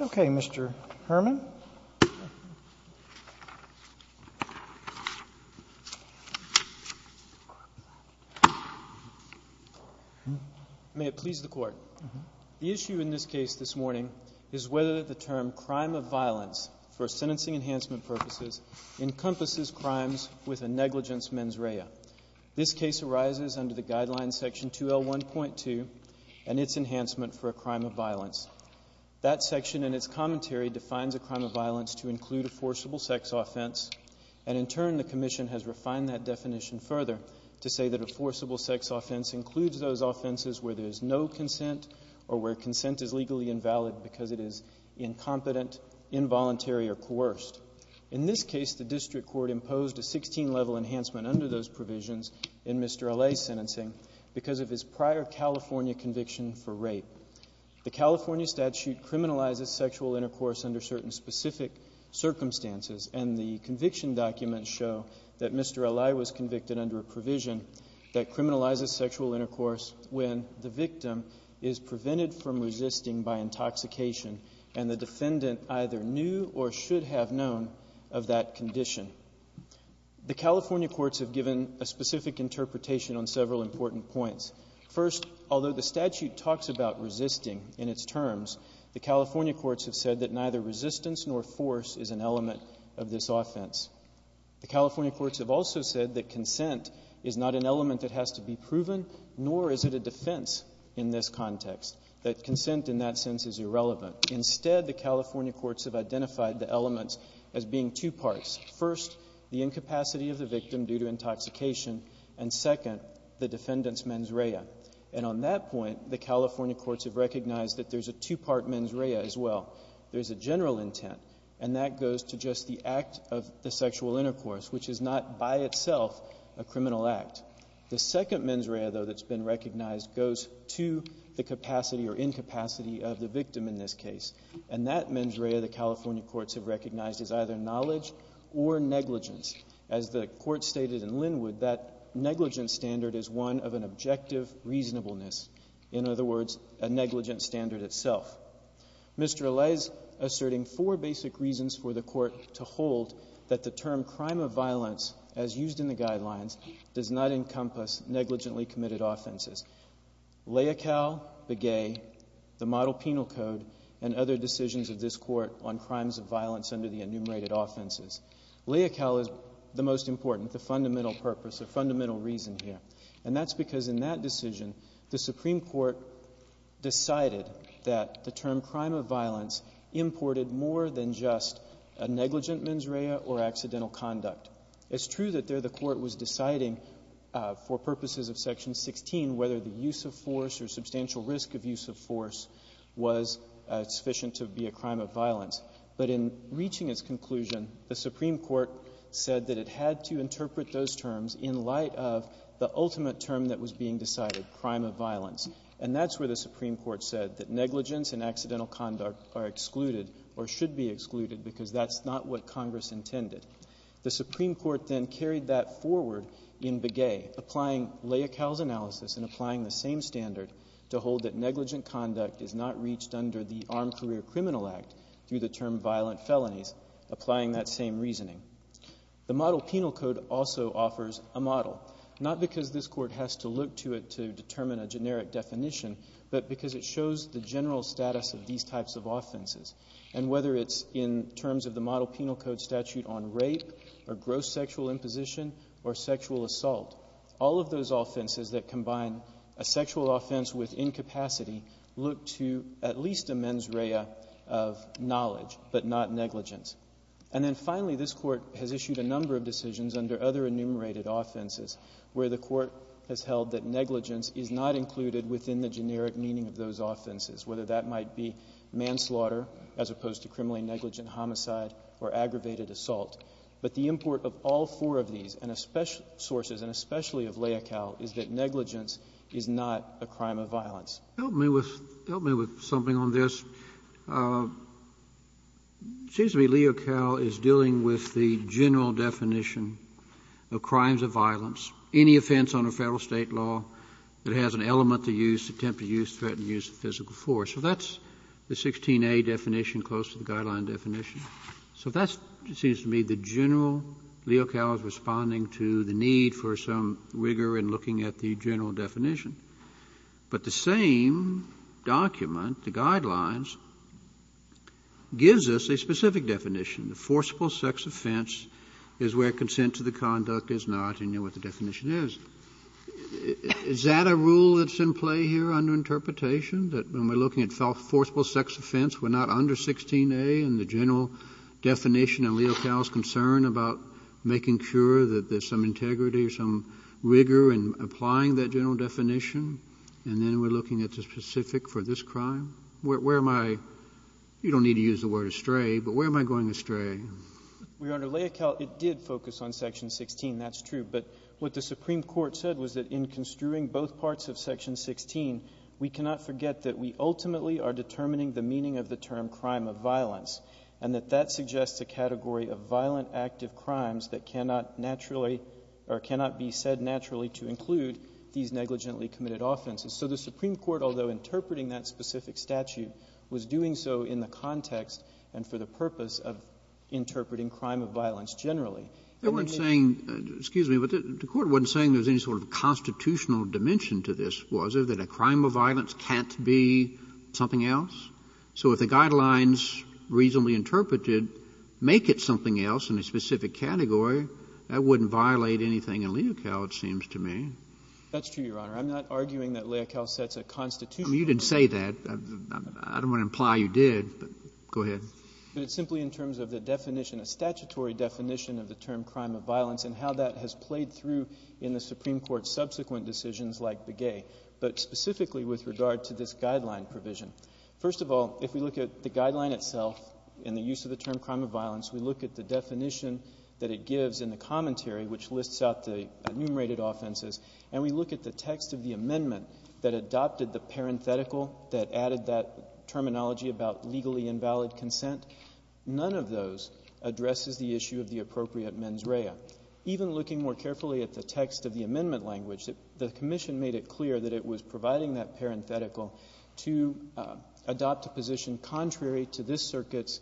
Okay, Mr. Herman. May it please the Court. The issue in this case this morning is whether the term crime of violence, for sentencing enhancement purposes, encompasses crimes with a negligence mens rea. This case arises under the Guideline Section 2L1.2 and its enhancement for a crime of violence. That section and its commentary defines a crime of violence to include a forcible sex offense, and in turn the Commission has refined that definition further to say that a forcible sex offense includes those offenses where there is no consent or where consent is legally invalid because it is incompetent, involuntary, or coerced. In this case, the district court imposed a 16-level enhancement under those provisions in Mr. Alay's sentencing because of his prior California conviction for rape. The California statute criminalizes sexual intercourse under certain specific circumstances, and the conviction documents show that Mr. Alay was convicted under a provision that criminalizes sexual intercourse when the victim is prevented from resisting by intoxication and the defendant either knew or should have known of that condition. The California courts have given a specific interpretation on several important points. First, although the statute talks about resisting in its terms, the California courts have said that neither resistance nor force is an element of this offense. The California courts have also said that consent is not an element, that consent in that sense is irrelevant. Instead, the California courts have identified the elements as being two parts. First, the incapacity of the victim due to intoxication, and second, the defendant's mens rea. And on that point, the California courts have recognized that there's a two-part mens rea as well. There's a general intent, and that goes to just the act of the sexual intercourse, which is not by itself a criminal act. The second mens rea, though, that's been recognized goes to the capacity or incapacity of the victim in this case. And that mens rea the California courts have recognized is either knowledge or negligence. As the court stated in Linwood, that negligence standard is one of an objective reasonableness. In other words, a negligence standard itself. Mr. Allais is asserting four basic reasons for the court to hold that the term crime of violence, as used in the guidelines, does not encompass negligently committed offenses. LAICAL, BEGAY, the model penal code, and other decisions of this court on crimes of violence under the enumerated offenses. LAICAL is the most important, the fundamental purpose, the fundamental reason here. And that's because in that decision, the Supreme Court decided that the term crime of violence imported more than just a negligent mens rea or accidental conduct. It's true that there the court was deciding for purposes of Section 16 whether the use of force or substantial risk of use of force was sufficient to be a crime of violence. But in reaching its conclusion, the Supreme Court said that it had to interpret those terms in light of the ultimate term that was being decided, crime of violence. And that's where the Supreme Court said that negligence and accidental conduct are excluded or should be excluded, because that's not what Congress intended. The Supreme Court then carried that forward in BEGAY, applying LAICAL's analysis and applying the same standard to hold that negligent conduct is not reached under the Armed Career Criminal Act through the term violent felonies, applying that same reasoning. The model penal code also offers a model, not because this court has to look to it to determine a generic definition, but because it shows the general status of these types of offenses. And whether it's in terms of the model penal code statute on rape or gross sexual imposition or sexual assault, all of those offenses that combine a sexual offense with incapacity look to at least a mens rea of knowledge, but not negligence. And then finally, this Court has issued a number of decisions under other enumerated offenses where the Court has held that negligence is not included within the generic meaning of those offenses, whether that might be manslaughter, as opposed to criminally negligent homicide or aggravated assault. But the import of all four of these, and especially sources and especially of LAICAL, is that negligence is not a crime of violence. Help me with something on this. It seems to me LAICAL is dealing with the general definition of crimes of violence, any offense under Federal State law that has an element to use, attempt to use, threaten use of physical force. So that's the 16A definition close to the guideline definition. So that seems to me the general, LAICAL is responding to the need for some rigor in looking at the general definition. But the same document, the guidelines, gives us a specific definition, the forcible sex offense is where consent to the conduct is not, and you know what the definition is. Is that a rule that's in play here under interpretation, that when we're looking at forcible sex offense, we're not under 16A in the general definition in LAICAL's concern about making sure that there's some integrity or some rigor in applying that general definition, and then we're looking at the specific for this crime? Where am I? You don't need to use the word astray, but where am I going astray? Your Honor, LAICAL, it did focus on section 16. That's true. But what the Supreme Court said was that in construing both parts of section 16, we cannot forget that we ultimately are determining the meaning of the term crime of violence, and that that suggests a category of violent active crimes that cannot naturally or cannot be said naturally to include these negligently committed offenses. So the Supreme Court, under the statute, was doing so in the context and for the purpose of interpreting crime of violence generally. Kennedy. They weren't saying, excuse me, but the Court wasn't saying there was any sort of constitutional dimension to this, was there, that a crime of violence can't be something else? So if the Guidelines reasonably interpreted make it something else in a specific category, that wouldn't violate anything in LAICAL, it seems to me. That's true, Your Honor. I'm not arguing that LAICAL sets a constitutional dimension. You didn't say that. I don't want to imply you did, but go ahead. But it's simply in terms of the definition, a statutory definition of the term crime of violence and how that has played through in the Supreme Court's subsequent decisions like Begay, but specifically with regard to this Guideline provision. First of all, if we look at the Guideline itself and the use of the term crime of violence, we look at the definition that it gives in the commentary, which lists out the enumerated offenses, and we look at the text of the amendment that adopted the parenthetical that added that terminology about legally invalid consent. None of those addresses the issue of the appropriate mens rea. Even looking more carefully at the text of the amendment language, the Commission made it clear that it was providing that parenthetical to adopt a position contrary to this Circuit's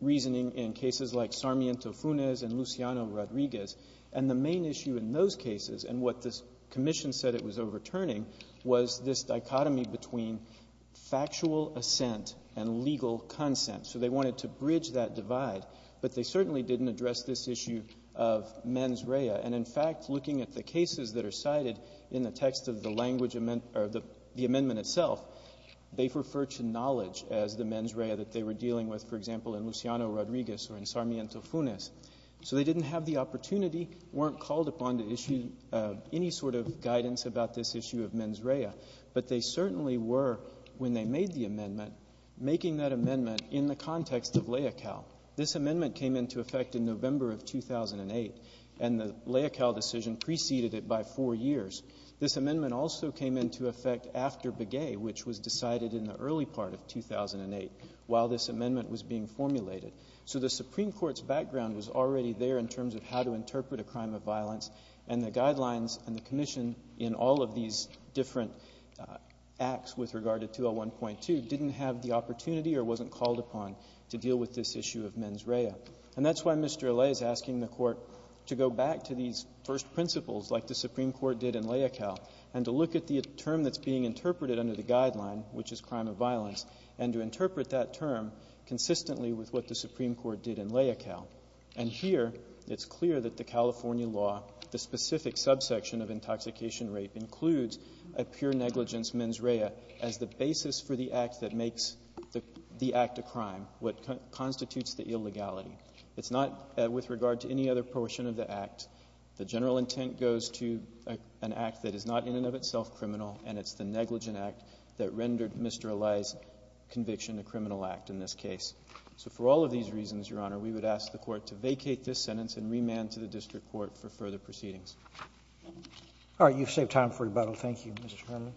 reasoning in cases like Sarmiento-Funes and Luciano-Rodriguez. And the main issue in those cases and what this Commission said it was overturning was this dichotomy between factual assent and legal consent. So they wanted to bridge that divide, but they certainly didn't address this issue of mens rea. And in fact, looking at the cases that are cited in the text of the language amendment or the amendment itself, they referred to knowledge as the mens rea that they were dealing with, for example, in Luciano-Rodriguez or in Sarmiento-Funes. So they didn't have the opportunity, weren't called upon to issue any sort of guidance about this issue of mens rea, but they certainly were, when they made the amendment, making that amendment in the context of Leocal. This amendment came into effect in November of 2008, and the Leocal decision preceded it by four years. This amendment also came into effect after Begay, which was decided in the early part of 2008, while this amendment was being formulated. So the Supreme Court's background was already there in terms of how to interpret a crime of violence, and the Guidelines and the Commission in all of these different acts with regard to 201.2 didn't have the opportunity or wasn't called upon to deal with this issue of mens rea. And that's why Mr. Allais is asking the Court to go back to these first principles like the Supreme Court did in Leocal and to look at the term that's being interpreted under the Guideline, which is crime of violence, and to interpret that term consistently with what the Supreme Court did in Leocal. And here it's clear that the California law, the specific subsection of intoxication rape, includes a pure negligence mens rea as the basis for the act that makes the act a crime, what constitutes the illegality. It's not with regard to any other portion of the act. The general intent goes to an act that is not in and of itself criminal, and it's the negligent act that rendered Mr. Allais' conviction a criminal act in this case. So for all of these reasons, Your Honor, we would ask the Court to vacate this sentence and remand to the district court for further proceedings. Roberts. All right. You've saved time for rebuttal. Thank you, Mr. Herman.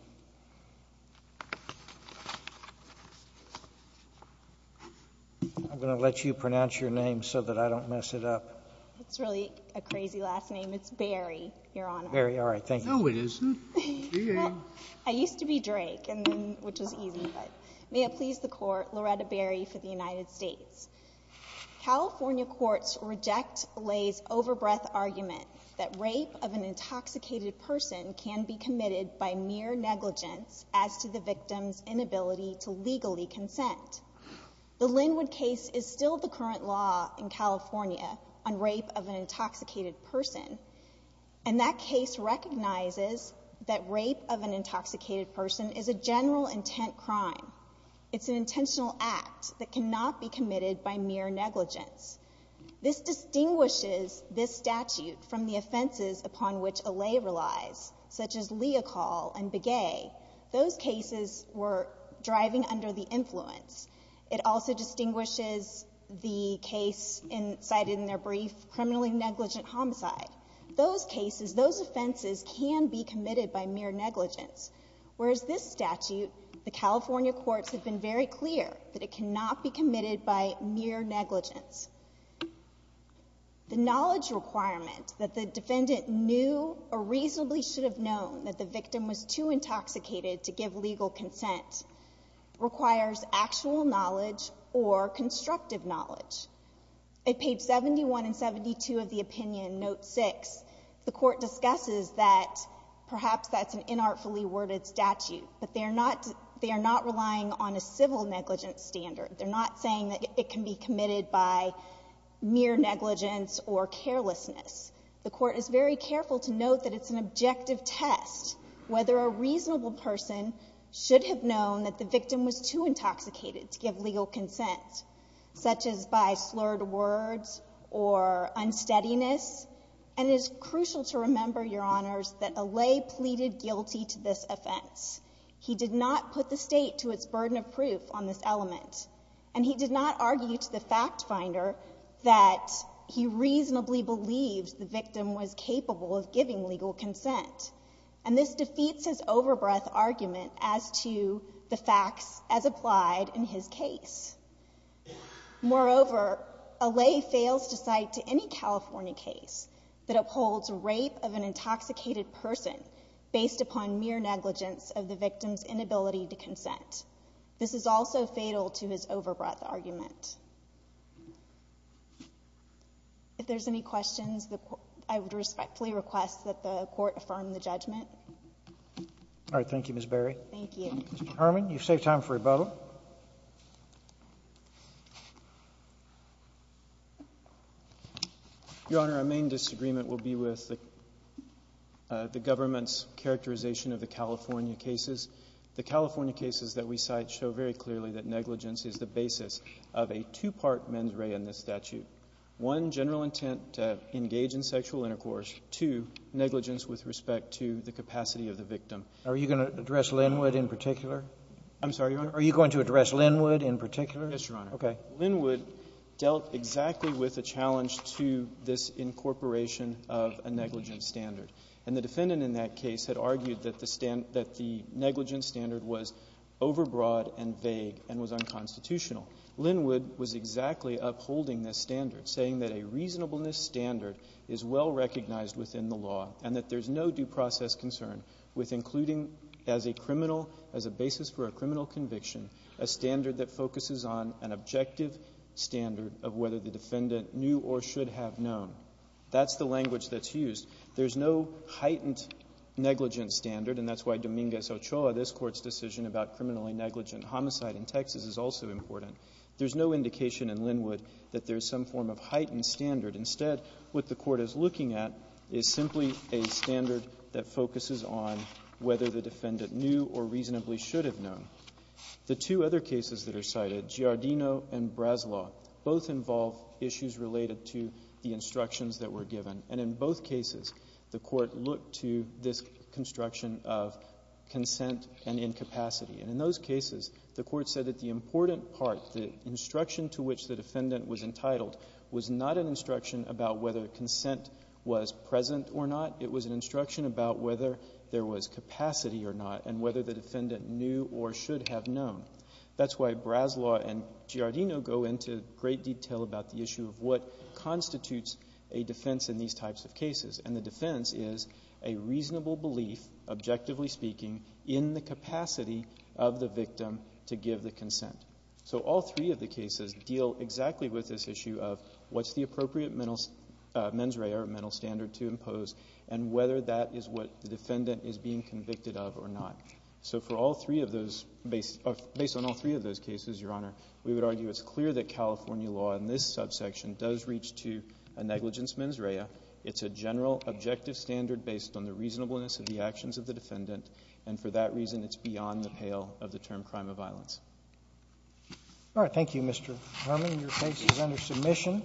I'm going to let you pronounce your name so that I don't mess it up. It's really a crazy last name. It's Berry, Your Honor. Berry. All right. Thank you. No, it isn't. I used to be Drake, and then — which was easy, but may it please the Court, Loretta Berry for the United States. California courts reject Lay's overbreath argument that rape of an intoxicated person can be committed by mere negligence as to the victim's inability to legally consent. The Linwood case is still the current law in California on rape of an intoxicated person, and that case recognizes that rape of an intoxicated person is a general intent crime. It's an intentional act that cannot be committed by mere negligence. This distinguishes this statute from the offenses upon which a lay relies, such as Leocal and Begay. Those cases were driving under the influence. It also distinguishes the case cited in their brief, criminally negligent homicide. Those cases, those offenses can be committed by mere negligence, whereas this statute, the California courts have been very clear that it cannot be committed by mere negligence. The knowledge requirement that the defendant knew or reasonably should have known that the victim was too intoxicated to give legal consent requires actual knowledge or constructive knowledge. At page 71 and 72 of the opinion, note 6, the Court discusses that perhaps that's an they are not relying on a civil negligence standard. They're not saying that it can be committed by mere negligence or carelessness. The Court is very careful to note that it's an objective test, whether a reasonable person should have known that the victim was too intoxicated to give legal consent, such as by slurred words or unsteadiness. And it is crucial to remember, Your Honors, that a lay pleaded guilty to this offense. He did not put the state to its burden of proof on this element. And he did not argue to the fact finder that he reasonably believed the victim was capable of giving legal consent. And this defeats his over-breath argument as to the facts as applied in his case. Moreover, a lay fails to cite to any California case that upholds rape of an intoxicated person based upon mere negligence of the victim's inability to consent. This is also fatal to his over-breath argument. If there's any questions, I would respectfully request that the Court affirm the judgment. All right. Thank you, Ms. Berry. Thank you. Mr. Herman, you've saved time for rebuttal. Your Honor, our main disagreement will be with the government's characterization of the California cases. The California cases that we cite show very clearly that negligence is the basis of a two-part mens rea in this statute, one, general intent to engage in sexual intercourse, two, negligence with respect to the capacity of the victim. Are you going to address Linwood in particular? I'm sorry, Your Honor? Are you going to address Linwood in particular? Yes, Your Honor. Okay. Linwood dealt exactly with a challenge to this incorporation of a negligence standard. And the defendant in that case had argued that the negligence standard was overbroad and vague and was unconstitutional. Linwood was exactly upholding this standard, saying that a reasonableness standard is well recognized within the law and that there's no due process concern with including as a criminal, as a basis for a criminal conviction, a standard that focuses on an objective standard of whether the defendant knew or should have known. That's the language that's used. There's no heightened negligence standard, and that's why Dominguez-Ochoa, this Court's decision about criminally negligent homicide in Texas is also important. There's no indication in Linwood that there's some form of heightened standard. Instead, what the Court is looking at is simply a standard that focuses on whether the defendant knew or reasonably should have known. The two other cases that are cited, Giardino and Braslaw, both involve issues related to the instructions that were given. And in both cases, the Court looked to this construction of consent and incapacity. And in those cases, the Court said that the important part, the instruction to which the defendant was entitled, was not an instruction about whether consent was present or not. It was an instruction about whether there was capacity or not and whether the defendant knew or should have known. That's why Braslaw and Giardino go into great detail about the issue of what constitutes a defense in these types of cases. And the defense is a reasonable belief, objectively speaking, in the capacity of the victim to give the consent. So all three of the cases deal exactly with this issue of what's the appropriate mens rea or mental standard to impose and whether that is what the defendant is being convicted of or not. So for all three of those, based on all three of those cases, Your Honor, we would argue it's clear that California law in this subsection does reach to a negligence mens rea. It's a general objective standard based on the reasonableness of the actions of the defendant. And for that reason, it's beyond the pale of the term crime of violence. All right. Thank you, Mr. Herman. Your case is under submission.